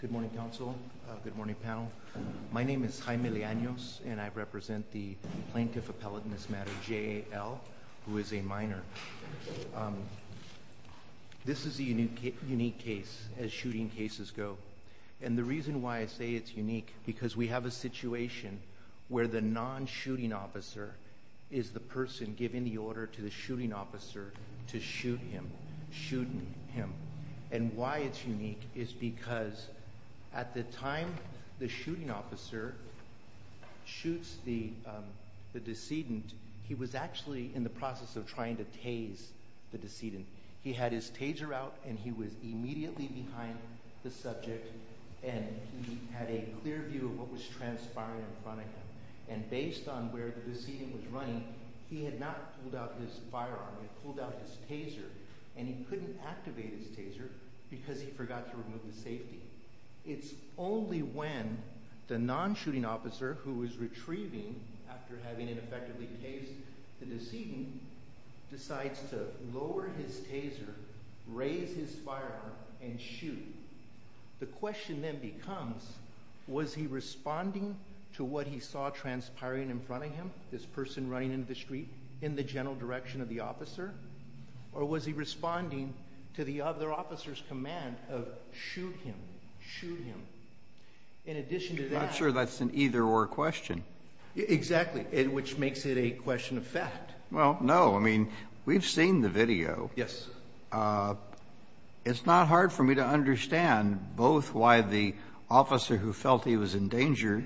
Good morning, Council. Good morning, panel. My name is Jaime Leanos, and I represent the Plaintiff Appellate in this matter, J. L., who is a minor. This is a unique case, as shooting cases go. And the reason why I say it's unique, because we have a situation where the non-shooting officer is the person giving the order to the shooting officer to shoot him. And why it's unique is because at the time the shooting officer shoots the decedent, he was actually in the process of trying to tase the decedent. He had his taser out, and he was immediately behind the subject, and he had a clear view of what was transpiring in front of him. And based on where the decedent was running, he had not pulled out his firearm, he had pulled out his taser, and he couldn't activate his taser because he forgot to remove the safety. It's only when the non-shooting officer, who is retrieving after having it effectively tased the decedent, decides to lower his taser, raise his firearm, and shoot. The question then becomes, was he responding to what he saw transpiring in front of him, this person running into the street, in the general direction of the officer? Or was he responding to the other officer's command of, shoot him, shoot him? In addition to that... I'm not sure that's an either-or question. Exactly. Which makes it a question of fact. Well, no. I mean, we've seen the video. Yes. It's not hard for me to understand both why the officer who felt he was in danger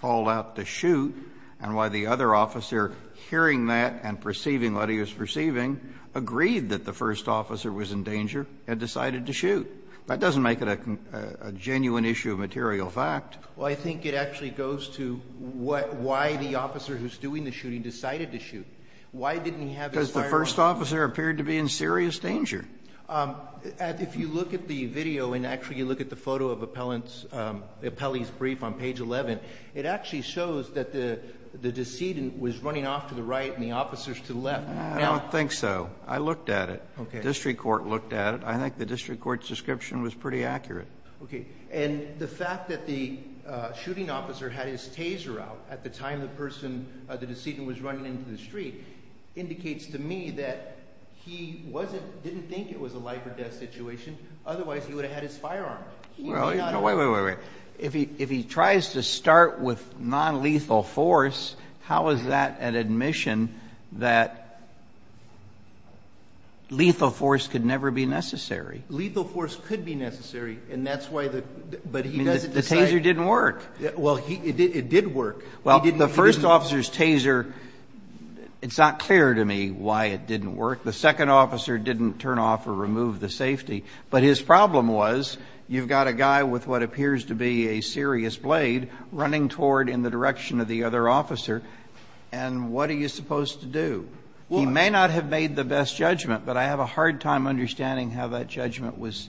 called out to shoot and why the other officer, hearing that and perceiving what he was perceiving, agreed that the first officer was in danger and decided to shoot. That doesn't make it a genuine issue of material fact. Well, I think it actually goes to why the officer who's doing the shooting decided to shoot. Why didn't he have his firearm? Because the other officer appeared to be in serious danger. If you look at the video, and actually you look at the photo of the appellee's brief on page 11, it actually shows that the decedent was running off to the right and the officer's to the left. I don't think so. I looked at it. The district court looked at it. I think the district court's description was pretty accurate. Okay. And the fact that the shooting officer had his taser out at the time the person, the decedent, was running into the street indicates to me that he didn't think it was a life or death situation. Otherwise, he would have had his firearm. Wait, wait, wait. If he tries to start with nonlethal force, how is that an admission that lethal force could never be necessary? Lethal force could be necessary, and that's why the, but he doesn't decide. The taser didn't work. Well, it did work. Well, the first officer's taser, it's not clear to me why it didn't work. The second officer didn't turn off or remove the safety. But his problem was you've got a guy with what appears to be a serious blade running toward in the direction of the other officer, and what are you supposed to do? He may not have made the best judgment, but I have a hard time understanding how that judgment was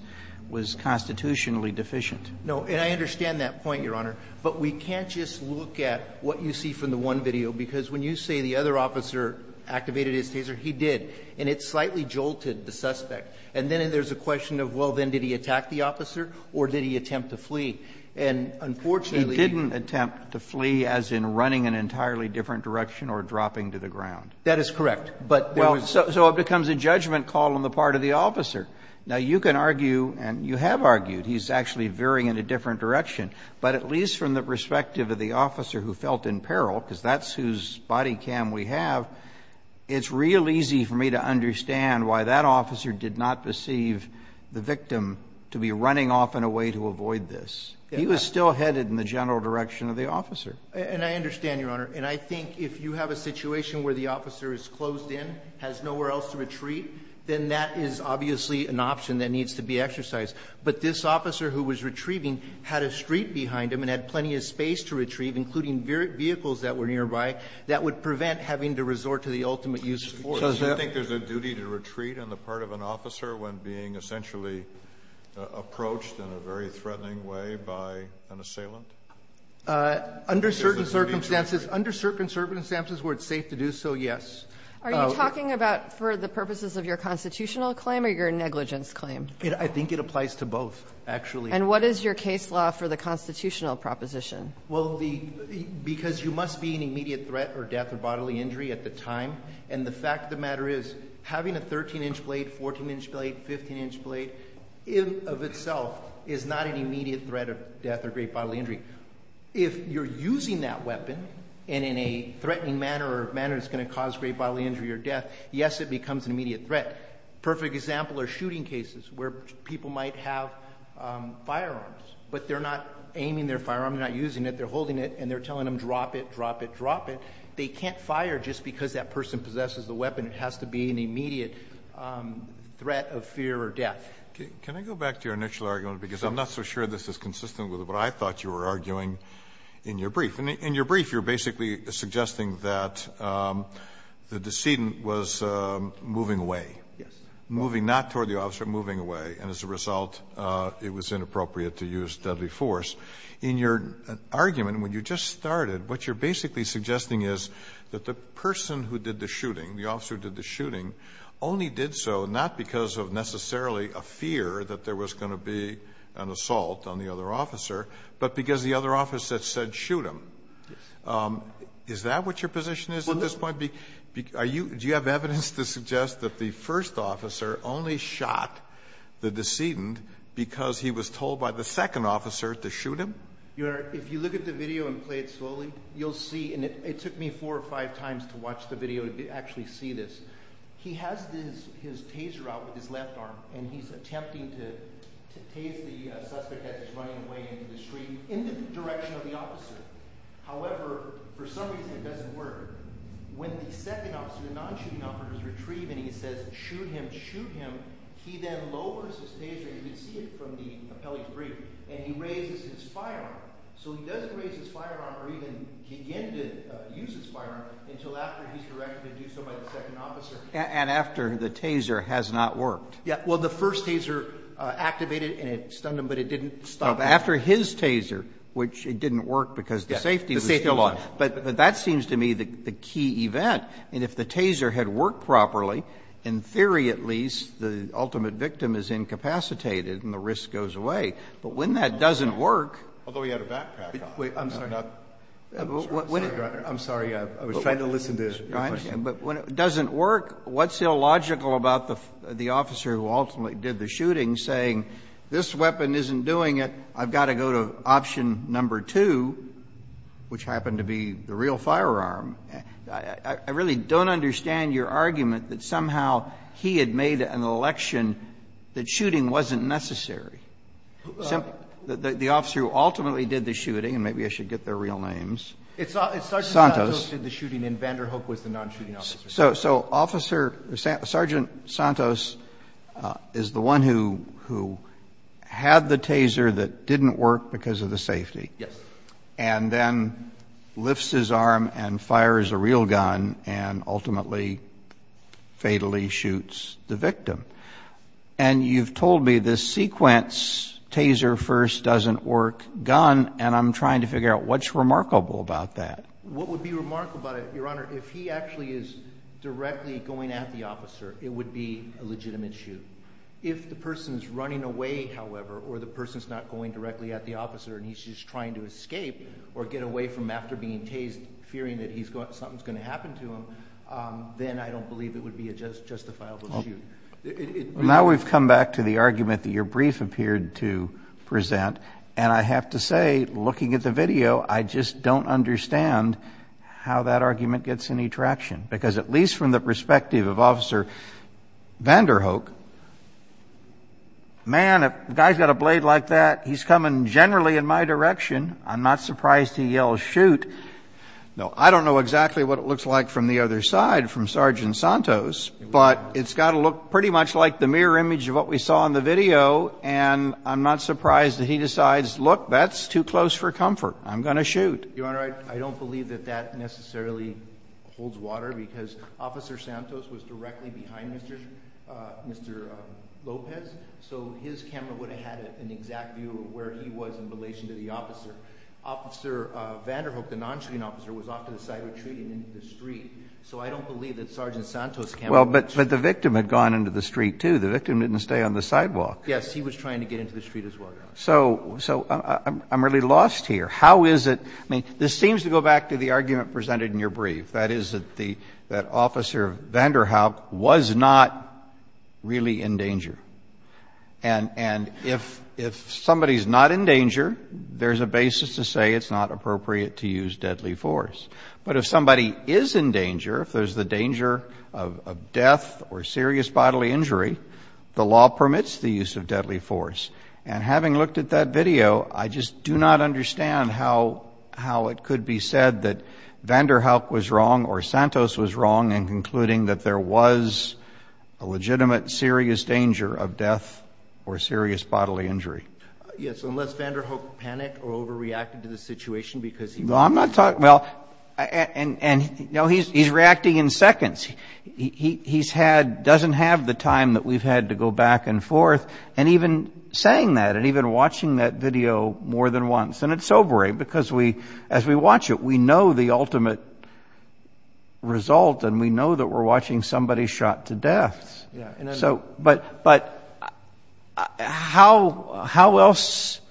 constitutionally deficient. No. And I understand that point, Your Honor. But we can't just look at what you see from the one video, because when you say the other officer activated his taser, he did. And it slightly jolted the suspect. And then there's a question of, well, then did he attack the officer or did he attempt to flee? And unfortunately he didn't attempt to flee as in running an entirely different direction or dropping to the ground. That is correct. So it becomes a judgment call on the part of the officer. Now, you can argue and you have argued he's actually veering in a different direction. But at least from the perspective of the officer who felt in peril, because that's whose body cam we have, it's real easy for me to understand why that officer did not perceive the victim to be running off in a way to avoid this. He was still headed in the general direction of the officer. And I understand, Your Honor. And I think if you have a situation where the officer is closed in, has nowhere else to retreat, then that is obviously an option that needs to be exercised. But this officer who was retrieving had a street behind him and had plenty of space to retrieve, including vehicles that were nearby. That would prevent having to resort to the ultimate use of force. Kennedy. Do you think there's a duty to retreat on the part of an officer when being essentially approached in a very threatening way by an assailant? Under certain circumstances, under certain circumstances where it's safe to do so, yes. Are you talking about for the purposes of your constitutional claim or your negligence claim? I think it applies to both, actually. And what is your case law for the constitutional proposition? Well, because you must be in immediate threat or death or bodily injury at the time. And the fact of the matter is having a 13-inch blade, 14-inch blade, 15-inch blade, in and of itself, is not an immediate threat of death or great bodily injury. If you're using that weapon and in a threatening manner or a manner that's going to cause great bodily injury or death, yes, it becomes an immediate threat. A perfect example are shooting cases where people might have firearms, but they're not aiming their firearm, they're not using it, they're holding it, and they're telling them drop it, drop it, drop it. They can't fire just because that person possesses the weapon. It has to be an immediate threat of fear or death. Can I go back to your initial argument? Because I'm not so sure this is consistent with what I thought you were arguing in your brief. In your brief, you're basically suggesting that the decedent was moving away. Yes. Moving not toward the officer, moving away. And as a result, it was inappropriate to use deadly force. In your argument, when you just started, what you're basically suggesting is that the person who did the shooting, the officer who did the shooting, only did so not because of necessarily a fear that there was going to be an assault on the other officer, but because the other officer said shoot him. Yes. Is that what your position is at this point? Are you do you have evidence to suggest that the first officer only shot the decedent because he was told by the second officer to shoot him? If you look at the video and play it slowly, you'll see, and it took me four or five times to watch the video to actually see this. He has his taser out with his left arm, and he's attempting to tase the suspect as he's running away into the street in the direction of the officer. However, for some reason it doesn't work. When the second officer, the non-shooting officer, is retrieved and he says shoot him, shoot him, he then lowers his taser, and you can see it from the appellee's brief, and he raises his firearm. So he doesn't raise his firearm or even begin to use his firearm until after he's directed to do so by the second officer. And after the taser has not worked. Yes. Well, the first taser activated and it stunned him, but it didn't stop him. After his taser, which it didn't work because the safety was still on. Yes, the safety was still on. But that seems to me the key event. And if the taser had worked properly, in theory at least, the ultimate victim is incapacitated and the risk goes away, but when that doesn't work. Although he had a backpack on. I'm sorry. I'm sorry. I was trying to listen to your question. But when it doesn't work, what's illogical about the officer who ultimately did the shooting saying this weapon isn't doing it, I've got to go to option number two, which happened to be the real firearm. I really don't understand your argument that somehow he had made an election that shooting wasn't necessary. The officer who ultimately did the shooting, and maybe I should get their real names. Santos. Sergeant Santos did the shooting and Vander Hoek was the non-shooting officer. So Officer or Sergeant Santos is the one who had the taser that didn't work because of the safety. Yes. And then lifts his arm and fires a real gun and ultimately fatally shoots the victim. And you've told me this sequence, taser first, doesn't work, gun, and I'm trying to figure out what's remarkable about that. What would be remarkable about it, Your Honor, if he actually is directly going at the officer, it would be a legitimate shoot. If the person is running away, however, or the person is not going directly at the officer and he's just trying to escape or get away from after being tased, fearing that something's going to happen to him, then I don't believe it would be a justifiable shoot. Well, now we've come back to the argument that your brief appeared to present, and I have to say, looking at the video, I just don't understand how that argument gets any traction because at least from the perspective of Officer Vander Hoek, man, a guy's got a blade like that, he's coming generally in my direction. I'm not surprised he yells, shoot. No, I don't know exactly what it looks like from the other side from Sergeant Santos, but it's got to look pretty much like the mirror image of what we saw in the video, and I'm not surprised that he decides, look, that's too close for comfort. I'm going to shoot. Your Honor, I don't believe that that necessarily holds water because Officer Santos was directly behind Mr. Lopez, so his camera would have had an exact view of where he was in relation to the officer. Officer Vander Hoek, the non-shooting officer, was off to the side retreating into the street, so I don't believe that Sergeant Santos' camera would have shot him. Well, but the victim had gone into the street, too. The victim didn't stay on the sidewalk. Yes. He was trying to get into the street as well, Your Honor. So I'm really lost here. How is it? I mean, this seems to go back to the argument presented in your brief, that is, that Officer Vander Hoek was not really in danger. And if somebody's not in danger, there's a basis to say it's not appropriate to use deadly force. But if somebody is in danger, if there's the danger of death or serious bodily injury, the law permits the use of deadly force. And having looked at that video, I just do not understand how it could be said that Vander Hoek was wrong or Santos was wrong in concluding that there was a legitimate serious danger of death or serious bodily injury. Yes. Unless Vander Hoek panicked or overreacted to the situation because he was in danger. Well, I'm not talking – well, and, you know, he's reacting in seconds. He's had – doesn't have the time that we've had to go back and forth. And even saying that and even watching that video more than once – and it's sobering because we – as we watch it, we know the ultimate result and we know that we're watching somebody shot to death. So – but how else –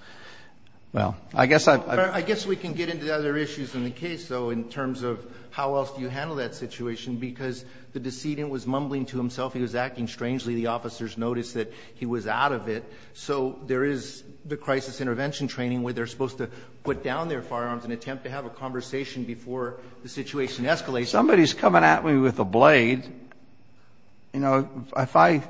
well, I guess I've – I guess we can get into other issues in the case, though, in terms of how else do you handle that situation because the decedent was mumbling to himself. He was acting strangely. The officers noticed that he was out of it. So there is the crisis intervention training where they're supposed to put down their firearms and attempt to have a conversation before the situation escalates. Somebody's coming at me with a blade. You know, if I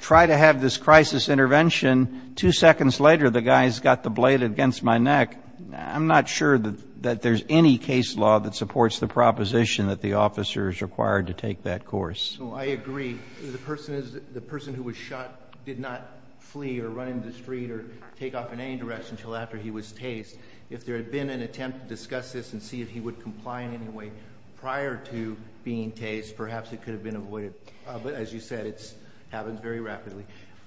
try to have this crisis intervention, two seconds later the guy's got the blade against my neck, I'm not sure that there's any case law that supports the proposition that the officer is required to take that course. Well, I agree. The person is – the person who was shot did not flee or run into the street or take off in any direction until after he was tased. If there had been an attempt to discuss this and see if he would comply in any way prior to being tased, perhaps it could have been avoided. But as you said, it happens very rapidly.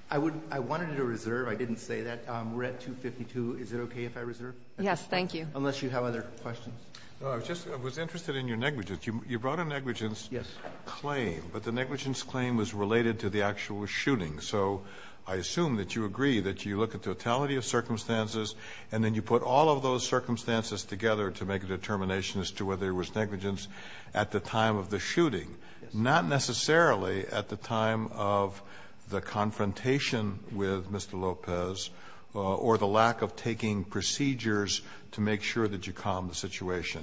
I would – I wanted to reserve – I didn't say that. We're at 252. Is it okay if I reserve? Yes, thank you. Unless you have other questions. I was just – I was interested in your negligence. You brought a negligence claim. Yes. But the negligence claim was related to the actual shooting. So I assume that you agree that you look at the totality of circumstances and then you put all of those circumstances together to make a determination as to whether there was negligence at the time of the shooting, not necessarily at the time of the confrontation with Mr. Lopez, or the lack of taking procedures to make sure that you calm the situation.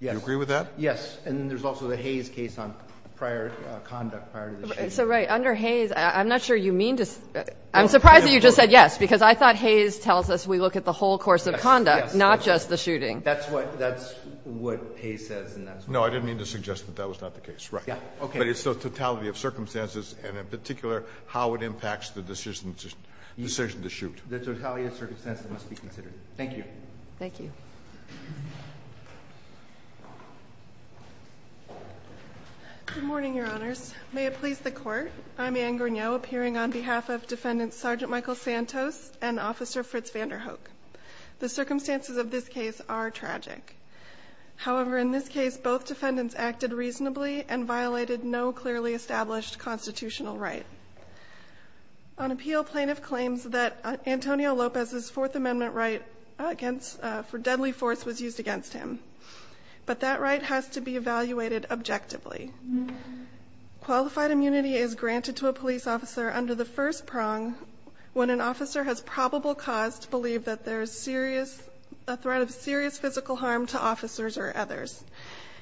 Yes. Do you agree with that? Yes. And there's also the Hayes case on prior conduct prior to the shooting. So, right, under Hayes, I'm not sure you mean to – I'm surprised that you just said yes, because I thought Hayes tells us we look at the whole course of conduct, not just the shooting. That's what – that's what Hayes says. No, I didn't mean to suggest that that was not the case. Right. Yeah. Okay. But it's the totality of circumstances and, in particular, how it impacts the decision to shoot. The totality of circumstances must be considered. Thank you. Thank you. Good morning, Your Honors. May it please the Court. I'm Anne Gourneau, appearing on behalf of Defendant Sergeant Michael Santos and Officer Fritz van der Hoek. The circumstances of this case are tragic. However, in this case, both defendants acted reasonably and violated no clearly established constitutional right. On appeal, plaintiff claims that Antonio Lopez's Fourth Amendment right against – for deadly force was used against him. But that right has to be evaluated objectively. Qualified immunity is granted to a police officer under the first prong when an officer has probable cause to believe that there is serious – a threat of serious physical harm to officers or others.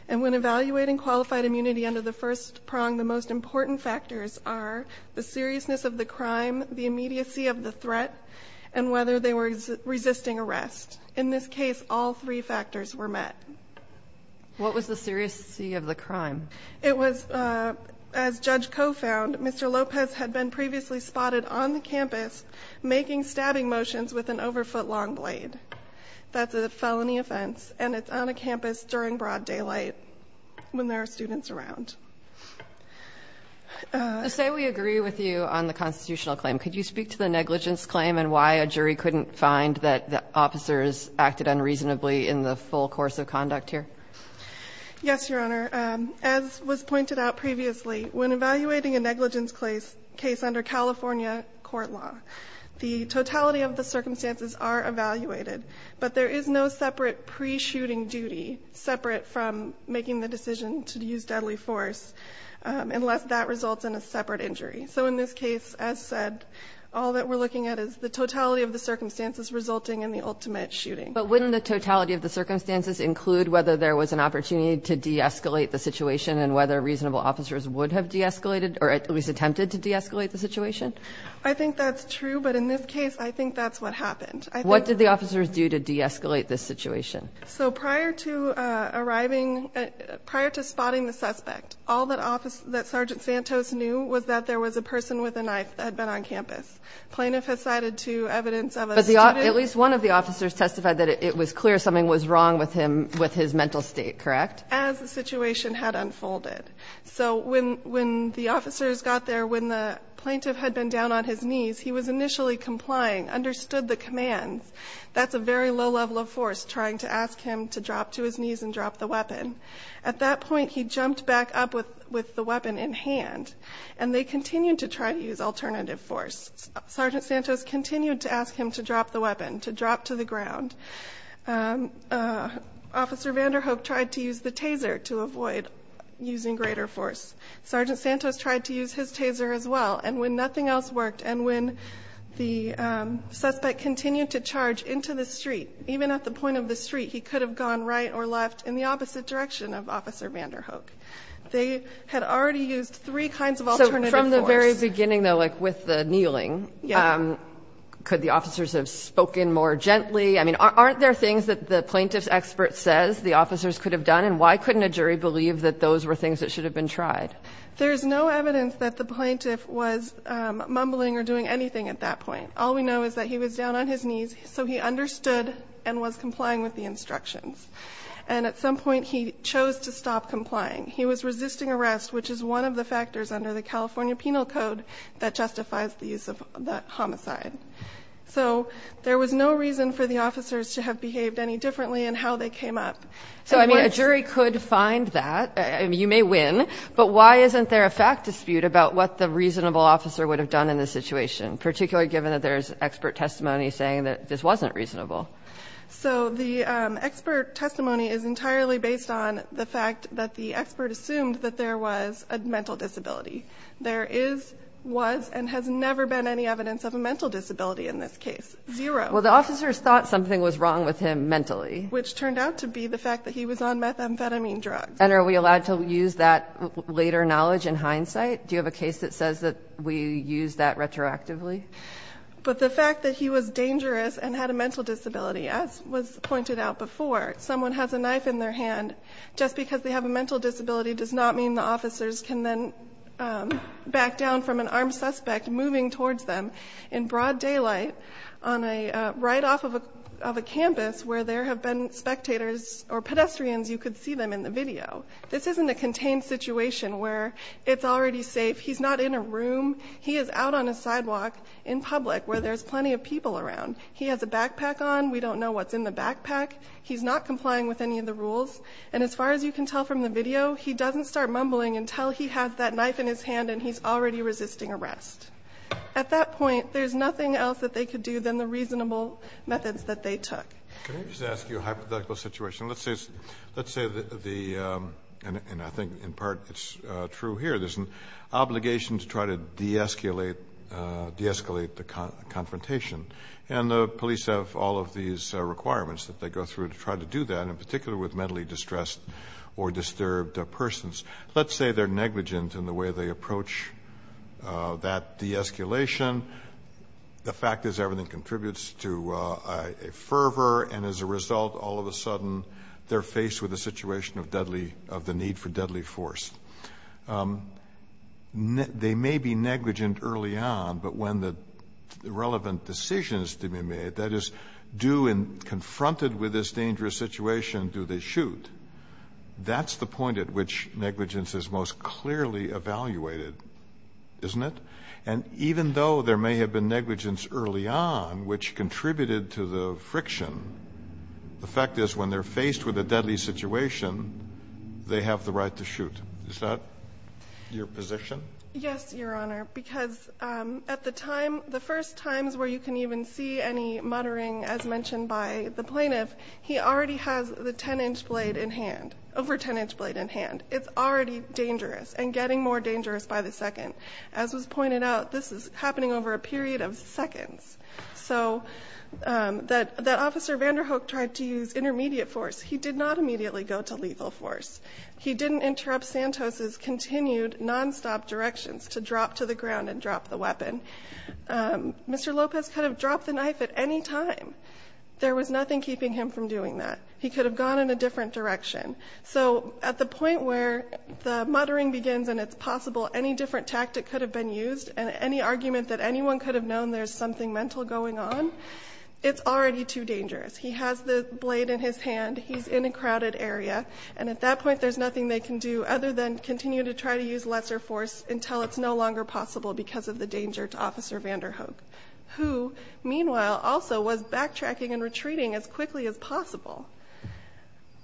And when evaluating qualified immunity under the first prong, the most important factors are the seriousness of the crime, the immediacy of the threat, and whether they were resisting arrest. In this case, all three factors were met. What was the seriousness of the crime? It was – as Judge Koh found, Mr. Lopez had been previously spotted on the campus making stabbing motions with an overfoot long blade. That's a felony offense, and it's on a campus during broad daylight when there are students around. Say we agree with you on the constitutional claim. Could you speak to the negligence claim and why a jury couldn't find that the officers acted unreasonably in the full course of conduct here? Yes, Your Honor. As was pointed out previously, when evaluating a negligence case under California court law, the totality of the circumstances are evaluated, but there is no separate pre-shooting duty separate from making the decision to use deadly force unless that results in a separate injury. So in this case, as said, all that we're looking at is the totality of the circumstances resulting in the ultimate shooting. But wouldn't the totality of the circumstances include whether there was an opportunity to de-escalate the situation and whether reasonable officers would have de-escalated or at least attempted to de-escalate the situation? I think that's true, but in this case, I think that's what happened. What did the officers do to de-escalate this situation? So prior to arriving – prior to spotting the suspect, all that Sergeant Santos knew was that there was a person with a knife that had been on campus. Plaintiff has cited two evidence of a student – But at least one of the officers testified that it was clear something was wrong with his mental state, correct? As the situation had unfolded. So when the officers got there, when the plaintiff had been down on his knees, he was initially complying, understood the commands. That's a very low level of force, trying to ask him to drop to his knees and drop the weapon. At that point, he jumped back up with the weapon in hand, and they continued to try to use alternative force. Sergeant Santos continued to ask him to drop the weapon, to drop to the ground. Officer Vanderhoek tried to use the taser to avoid using greater force. Sergeant Santos tried to use his taser as well, and when nothing else worked, and when the suspect continued to charge into the street, even at the point of the street, he could have gone right or left in the opposite direction of Officer Vanderhoek. They had already used three kinds of alternative force. So from the very beginning, though, like with the kneeling, could the officers have spoken more gently? I mean, aren't there things that the plaintiff's expert says the officers could have done, and why couldn't a jury believe that those were things that should have been tried? There's no evidence that the plaintiff was mumbling or doing anything at that point. All we know is that he was down on his knees, so he understood and was complying with the instructions. And at some point, he chose to stop complying. He was resisting arrest, which is one of the factors under the California Penal Code that justifies the use of the homicide. So there was no reason for the officers to have behaved any differently in how they came up. So, I mean, a jury could find that. You may win. But why isn't there a fact dispute about what the reasonable officer would have done in this situation, particularly given that there's expert testimony saying that this wasn't reasonable? So the expert testimony is entirely based on the fact that the expert assumed that there was a mental disability. There is, was, and has never been any evidence of a mental disability in this case. Zero. Well, the officers thought something was wrong with him mentally. Which turned out to be the fact that he was on methamphetamine drugs. And are we allowed to use that later knowledge in hindsight? Do you have a case that says that we use that retroactively? But the fact that he was dangerous and had a mental disability, as was pointed out before, someone has a knife in their hand, just because they have a mental disability does not mean the officers can then back down from an armed suspect moving towards them in broad daylight right off of a campus where there have been spectators or pedestrians. You could see them in the video. This isn't a contained situation where it's already safe. He's not in a room. He is out on a sidewalk in public where there's plenty of people around. He has a backpack on. We don't know what's in the backpack. He's not complying with any of the rules. And as far as you can tell from the video, he doesn't start mumbling until he has that knife in his hand and he's already resisting arrest. At that point, there's nothing else that they could do than the reasonable methods that they took. Can I just ask you a hypothetical situation? Let's say the – and I think in part it's true here. There's an obligation to try to de-escalate the confrontation. And the police have all of these requirements that they go through to try to do that, and in particular with mentally distressed or disturbed persons. Let's say they're negligent in the way they approach that de-escalation. The fact is everything contributes to a fervor, and as a result, all of a sudden they're faced with a situation of deadly – of the need for deadly force. They may be negligent early on, but when the relevant decision is to be made, that is, do in – confronted with this dangerous situation, do they shoot, that's the point at which negligence is most clearly evaluated, isn't it? And even though there may have been negligence early on, which contributed to the friction, the fact is when they're faced with a deadly situation, they have the right to shoot. Is that your position? Yes, Your Honor, because at the time – the first times where you can even see any muttering, as mentioned by the plaintiff, he already has the 10-inch blade in hand, over 10-inch blade in hand. It's already dangerous and getting more dangerous by the second. As was pointed out, this is happening over a period of seconds. So that Officer Vanderhoek tried to use intermediate force. He did not immediately go to lethal force. He didn't interrupt Santos's continued nonstop directions to drop to the ground and drop the weapon. Mr. Lopez could have dropped the knife at any time. There was nothing keeping him from doing that. He could have gone in a different direction. So at the point where the muttering begins and it's possible any different tactic could have been used and any argument that anyone could have known there's something mental going on, it's already too dangerous. He has the blade in his hand. He's in a crowded area. And at that point, there's nothing they can do other than continue to try to use lesser force until it's no longer possible because of the danger to Officer Vanderhoek, who, meanwhile, also was backtracking and retreating as quickly as possible.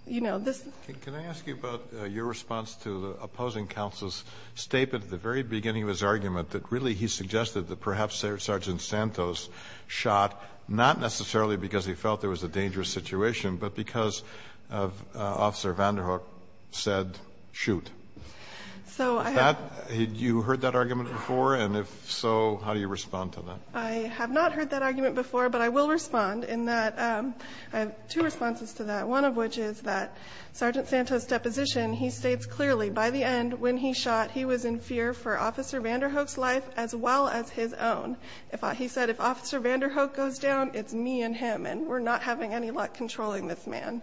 You know, this – Kennedy. Can I ask you about your response to the opposing counsel's statement at the very beginning of his argument that really he suggested that perhaps Sergeant Santos shot not necessarily because he felt there was a dangerous situation, but because Officer Vanderhoek said, shoot. So I have – Had you heard that argument before? And if so, how do you respond to that? I have not heard that argument before, but I will respond in that I have two responses to that, one of which is that Sergeant Santos' deposition, he states clearly, by the end when he shot, he was in fear for Officer Vanderhoek's life as well as his own. He said, if Officer Vanderhoek goes down, it's me and him, and we're not having any luck controlling this man.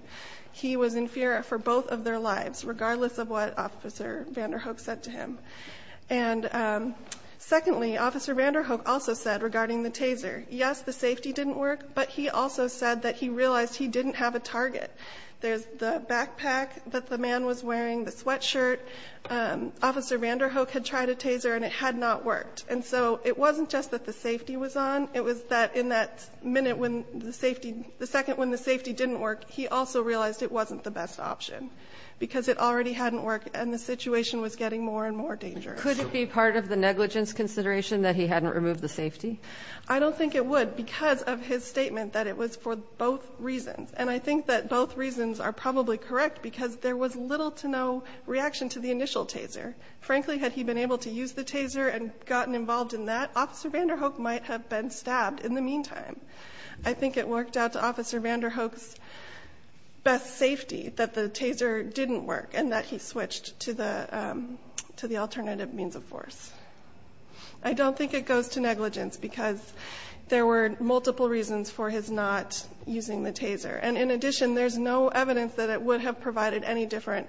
He was in fear for both of their lives, regardless of what Officer Vanderhoek said to him. And secondly, Officer Vanderhoek also said regarding the taser, yes, the safety didn't work, but he also said that he realized he didn't have a target. There's the backpack that the man was wearing, the sweatshirt. Officer Vanderhoek had tried a taser, and it had not worked. And so it wasn't just that the safety was on. It was that in that minute when the safety – the second when the safety didn't work, he also realized it wasn't the best option because it already hadn't worked and the situation was getting more and more dangerous. Could it be part of the negligence consideration that he hadn't removed the safety? I don't think it would because of his statement that it was for both reasons. And I think that both reasons are probably correct because there was little to no reaction to the initial taser. Frankly, had he been able to use the taser and gotten involved in that, Officer Vanderhoek might have been stabbed in the meantime. I think it worked out to Officer Vanderhoek's best safety that the taser didn't work and that he switched to the alternative means of force. I don't think it goes to negligence because there were multiple reasons for his not using the taser. And in addition, there's no evidence that it would have provided any different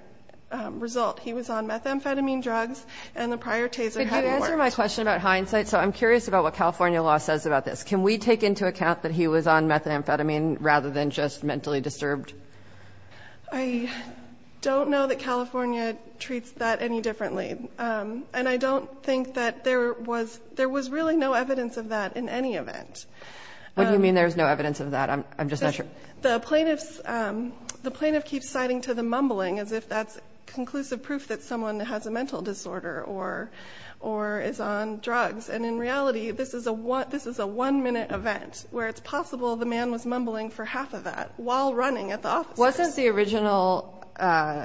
result. He was on methamphetamine drugs and the prior taser hadn't worked. Could you answer my question about hindsight? So I'm curious about what California law says about this. Can we take into account that he was on methamphetamine rather than just mentally disturbed? I don't know that California treats that any differently. And I don't think that there was really no evidence of that in any event. What do you mean there was no evidence of that? I'm just not sure. The plaintiff keeps citing to the mumbling as if that's conclusive proof that someone has a mental disorder or is on drugs. And in reality, this is a one-minute event where it's possible the man was mumbling for half of that while running at the officers. Wasn't the original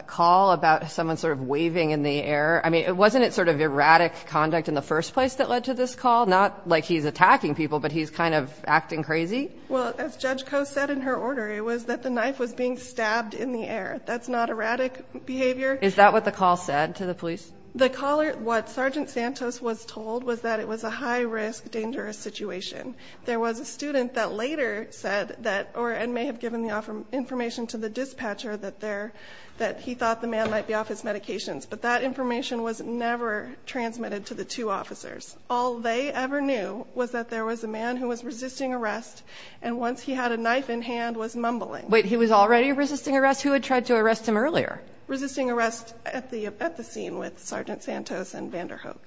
call about someone sort of waving in the air, I mean, wasn't it sort of erratic conduct in the first place that led to this call? Not like he's attacking people, but he's kind of acting crazy? Well, as Judge Coe said in her order, it was that the knife was being stabbed in the air. That's not erratic behavior. Is that what the call said to the police? The caller, what Sergeant Santos was told was that it was a high-risk, dangerous situation. There was a student that later said that, or may have given the information to the dispatcher, that he thought the man might be off his medications. But that information was never transmitted to the two officers. All they ever knew was that there was a man who was resisting arrest, and once he had a knife in hand, was mumbling. Wait, he was already resisting arrest? Who had tried to arrest him earlier? Resisting arrest at the scene with Sergeant Santos and Vanderhoek.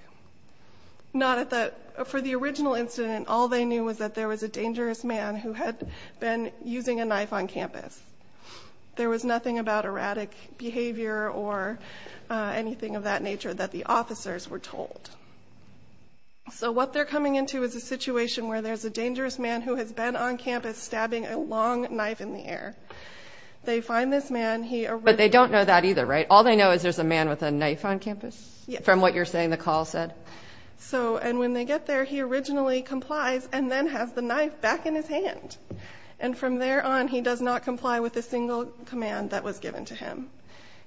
For the original incident, all they knew was that there was a dangerous man who had been using a knife on campus. There was nothing about erratic behavior or anything of that nature that the officers were told. So what they're coming into is a situation where there's a dangerous man who has been on campus stabbing a long knife in the air. They find this man. But they don't know that either, right? All they know is there's a man with a knife on campus? Yes. From what you're saying the call said? And when they get there, he originally complies and then has the knife back in his hand. And from there on, he does not comply with a single command that was given to him.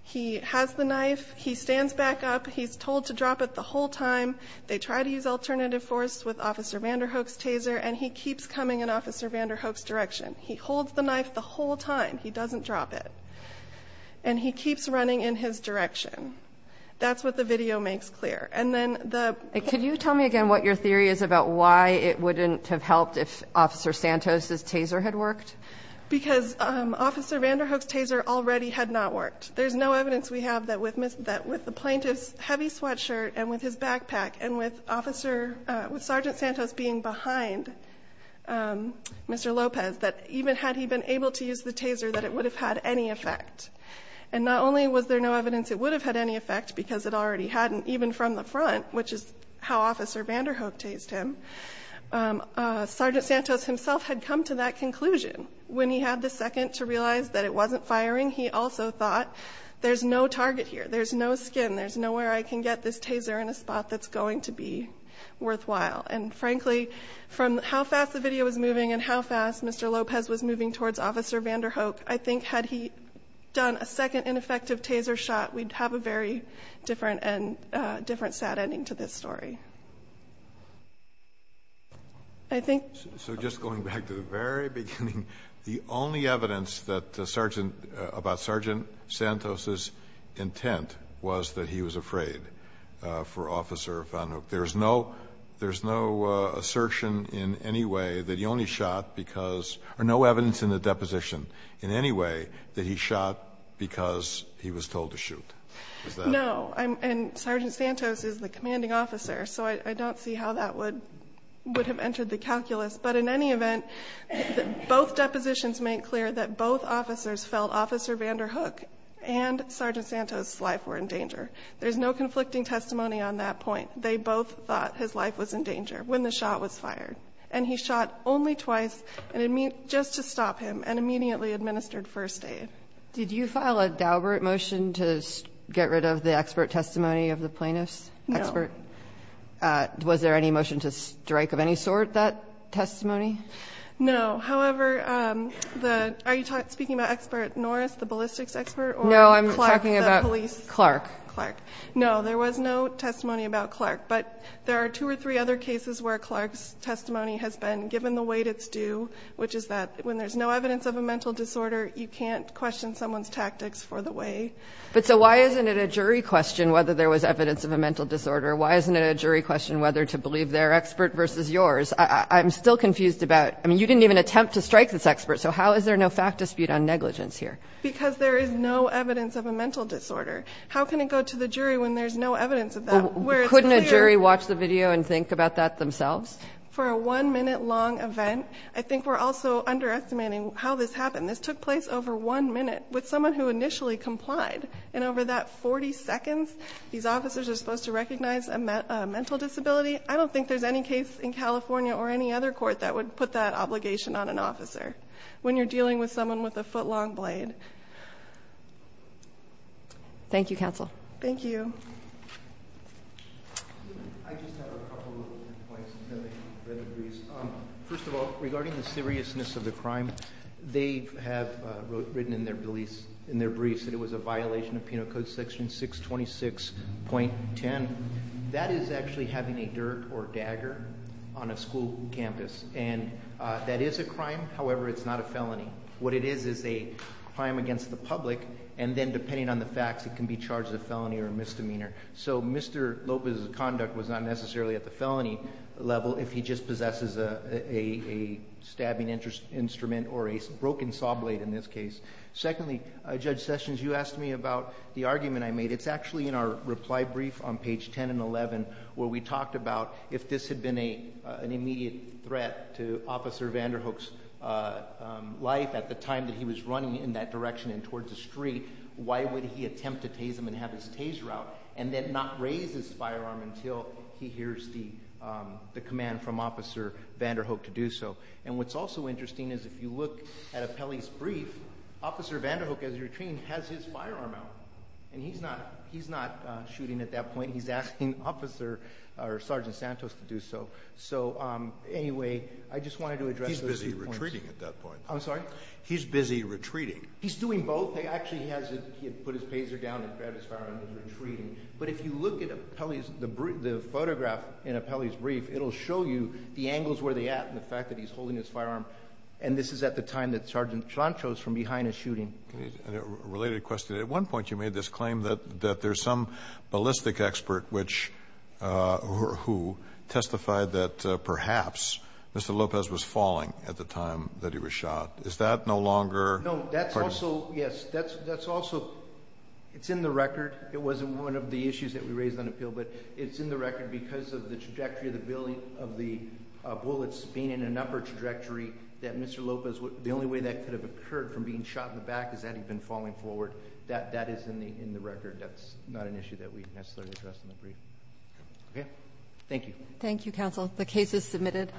He has the knife. He stands back up. He's told to drop it the whole time. They try to use alternative force with Officer Vanderhoek's taser, and he keeps coming in Officer Vanderhoek's direction. He holds the knife the whole time. He doesn't drop it. And he keeps running in his direction. That's what the video makes clear. Could you tell me again what your theory is about why it wouldn't have helped if Officer Santos's taser had worked? Because Officer Vanderhoek's taser already had not worked. There's no evidence we have that with the plaintiff's heavy sweatshirt and with his backpack and with Sergeant Santos being behind Mr. Lopez, that even had he been able to use the taser, that it would have had any effect. And not only was there no evidence it would have had any effect because it already hadn't, even from the front, which is how Officer Vanderhoek tased him, Sergeant Santos himself had come to that conclusion. When he had the second to realize that it wasn't firing, he also thought, there's no target here. There's no skin. There's nowhere I can get this taser in a spot that's going to be worthwhile. And, frankly, from how fast the video was moving and how fast Mr. Lopez was moving towards Officer Vanderhoek, I think had he done a second ineffective taser shot, we'd have a very different sad ending to this story. So just going back to the very beginning, the only evidence about Sergeant Santos's intent was that he was afraid for Officer Vanderhoek. There's no assertion in any way that he only shot because or no evidence in the deposition in any way that he shot because he was told to shoot. Is that right? No. And Sergeant Santos is the commanding officer, so I don't see how that would have entered the calculus. But in any event, both depositions make clear that both officers felt Officer Vanderhoek and Sergeant Santos's life were in danger. There's no conflicting testimony on that point. They both thought his life was in danger when the shot was fired. And he shot only twice, just to stop him, and immediately administered first aid. Did you file a Daubert motion to get rid of the expert testimony of the plaintiffs? No. Was there any motion to strike of any sort that testimony? No. However, are you speaking about Expert Norris, the ballistics expert? No, I'm talking about Clark. Clark. No, there was no testimony about Clark. But there are two or three other cases where Clark's testimony has been given the weight it's due, which is that when there's no evidence of a mental disorder, you can't question someone's tactics for the weight. But so why isn't it a jury question whether there was evidence of a mental disorder? Why isn't it a jury question whether to believe their expert versus yours? I'm still confused about it. I mean, you didn't even attempt to strike this expert, so how is there no fact dispute on negligence here? Because there is no evidence of a mental disorder. How can it go to the jury when there's no evidence of that? Couldn't a jury watch the video and think about that themselves? For a one-minute-long event, I think we're also underestimating how this happened. This took place over one minute with someone who initially complied. And over that 40 seconds, these officers are supposed to recognize a mental disability? I don't think there's any case in California or any other court that would put that obligation on an officer when you're dealing with someone with a foot-long blade. Thank you, counsel. Thank you. I just have a couple of points. First of all, regarding the seriousness of the crime, they have written in their briefs that it was a violation of Penal Code Section 626.10. That is actually having a dirk or dagger on a school campus. And that is a crime. However, it's not a felony. What it is is a crime against the public, and then depending on the facts, it can be charged as a felony or a misdemeanor. So Mr. Lopez's conduct was not necessarily at the felony level if he just possesses a stabbing instrument or a broken saw blade in this case. Secondly, Judge Sessions, you asked me about the argument I made. It's actually in our reply brief on page 10 and 11 where we talked about if this had been an immediate threat to Officer Vanderhoek's life at the time that he was running in that direction and towards the street, why would he attempt to tase him and have his tase route and then not raise his firearm until he hears the command from Officer Vanderhoek to do so? And what's also interesting is if you look at Apelli's brief, Officer Vanderhoek, as you're attracting, has his firearm out. And he's not shooting at that point. He's asking Sergeant Santos to do so. So anyway, I just wanted to address those two points. He's busy retreating at that point. I'm sorry? He's busy retreating. He's doing both. Actually, he had put his paser down and grabbed his firearm and was retreating. But if you look at the photograph in Apelli's brief, it'll show you the angles where they're at and the fact that he's holding his firearm. And this is at the time that Sergeant Santos, from behind, is shooting. A related question. At one point, you made this claim that there's some ballistic expert who testified that perhaps Mr. Lopez was falling at the time that he was shot. Is that no longer? No. That's also, yes. That's also. It's in the record. It wasn't one of the issues that we raised on appeal. But it's in the record because of the trajectory of the bullets being in an upper trajectory that Mr. Lopez. The only way that could have occurred from being shot in the back is that he'd been falling forward. That is in the record. That's not an issue that we necessarily address in the brief. Okay? Thank you. Thank you, Counsel. The case is submitted.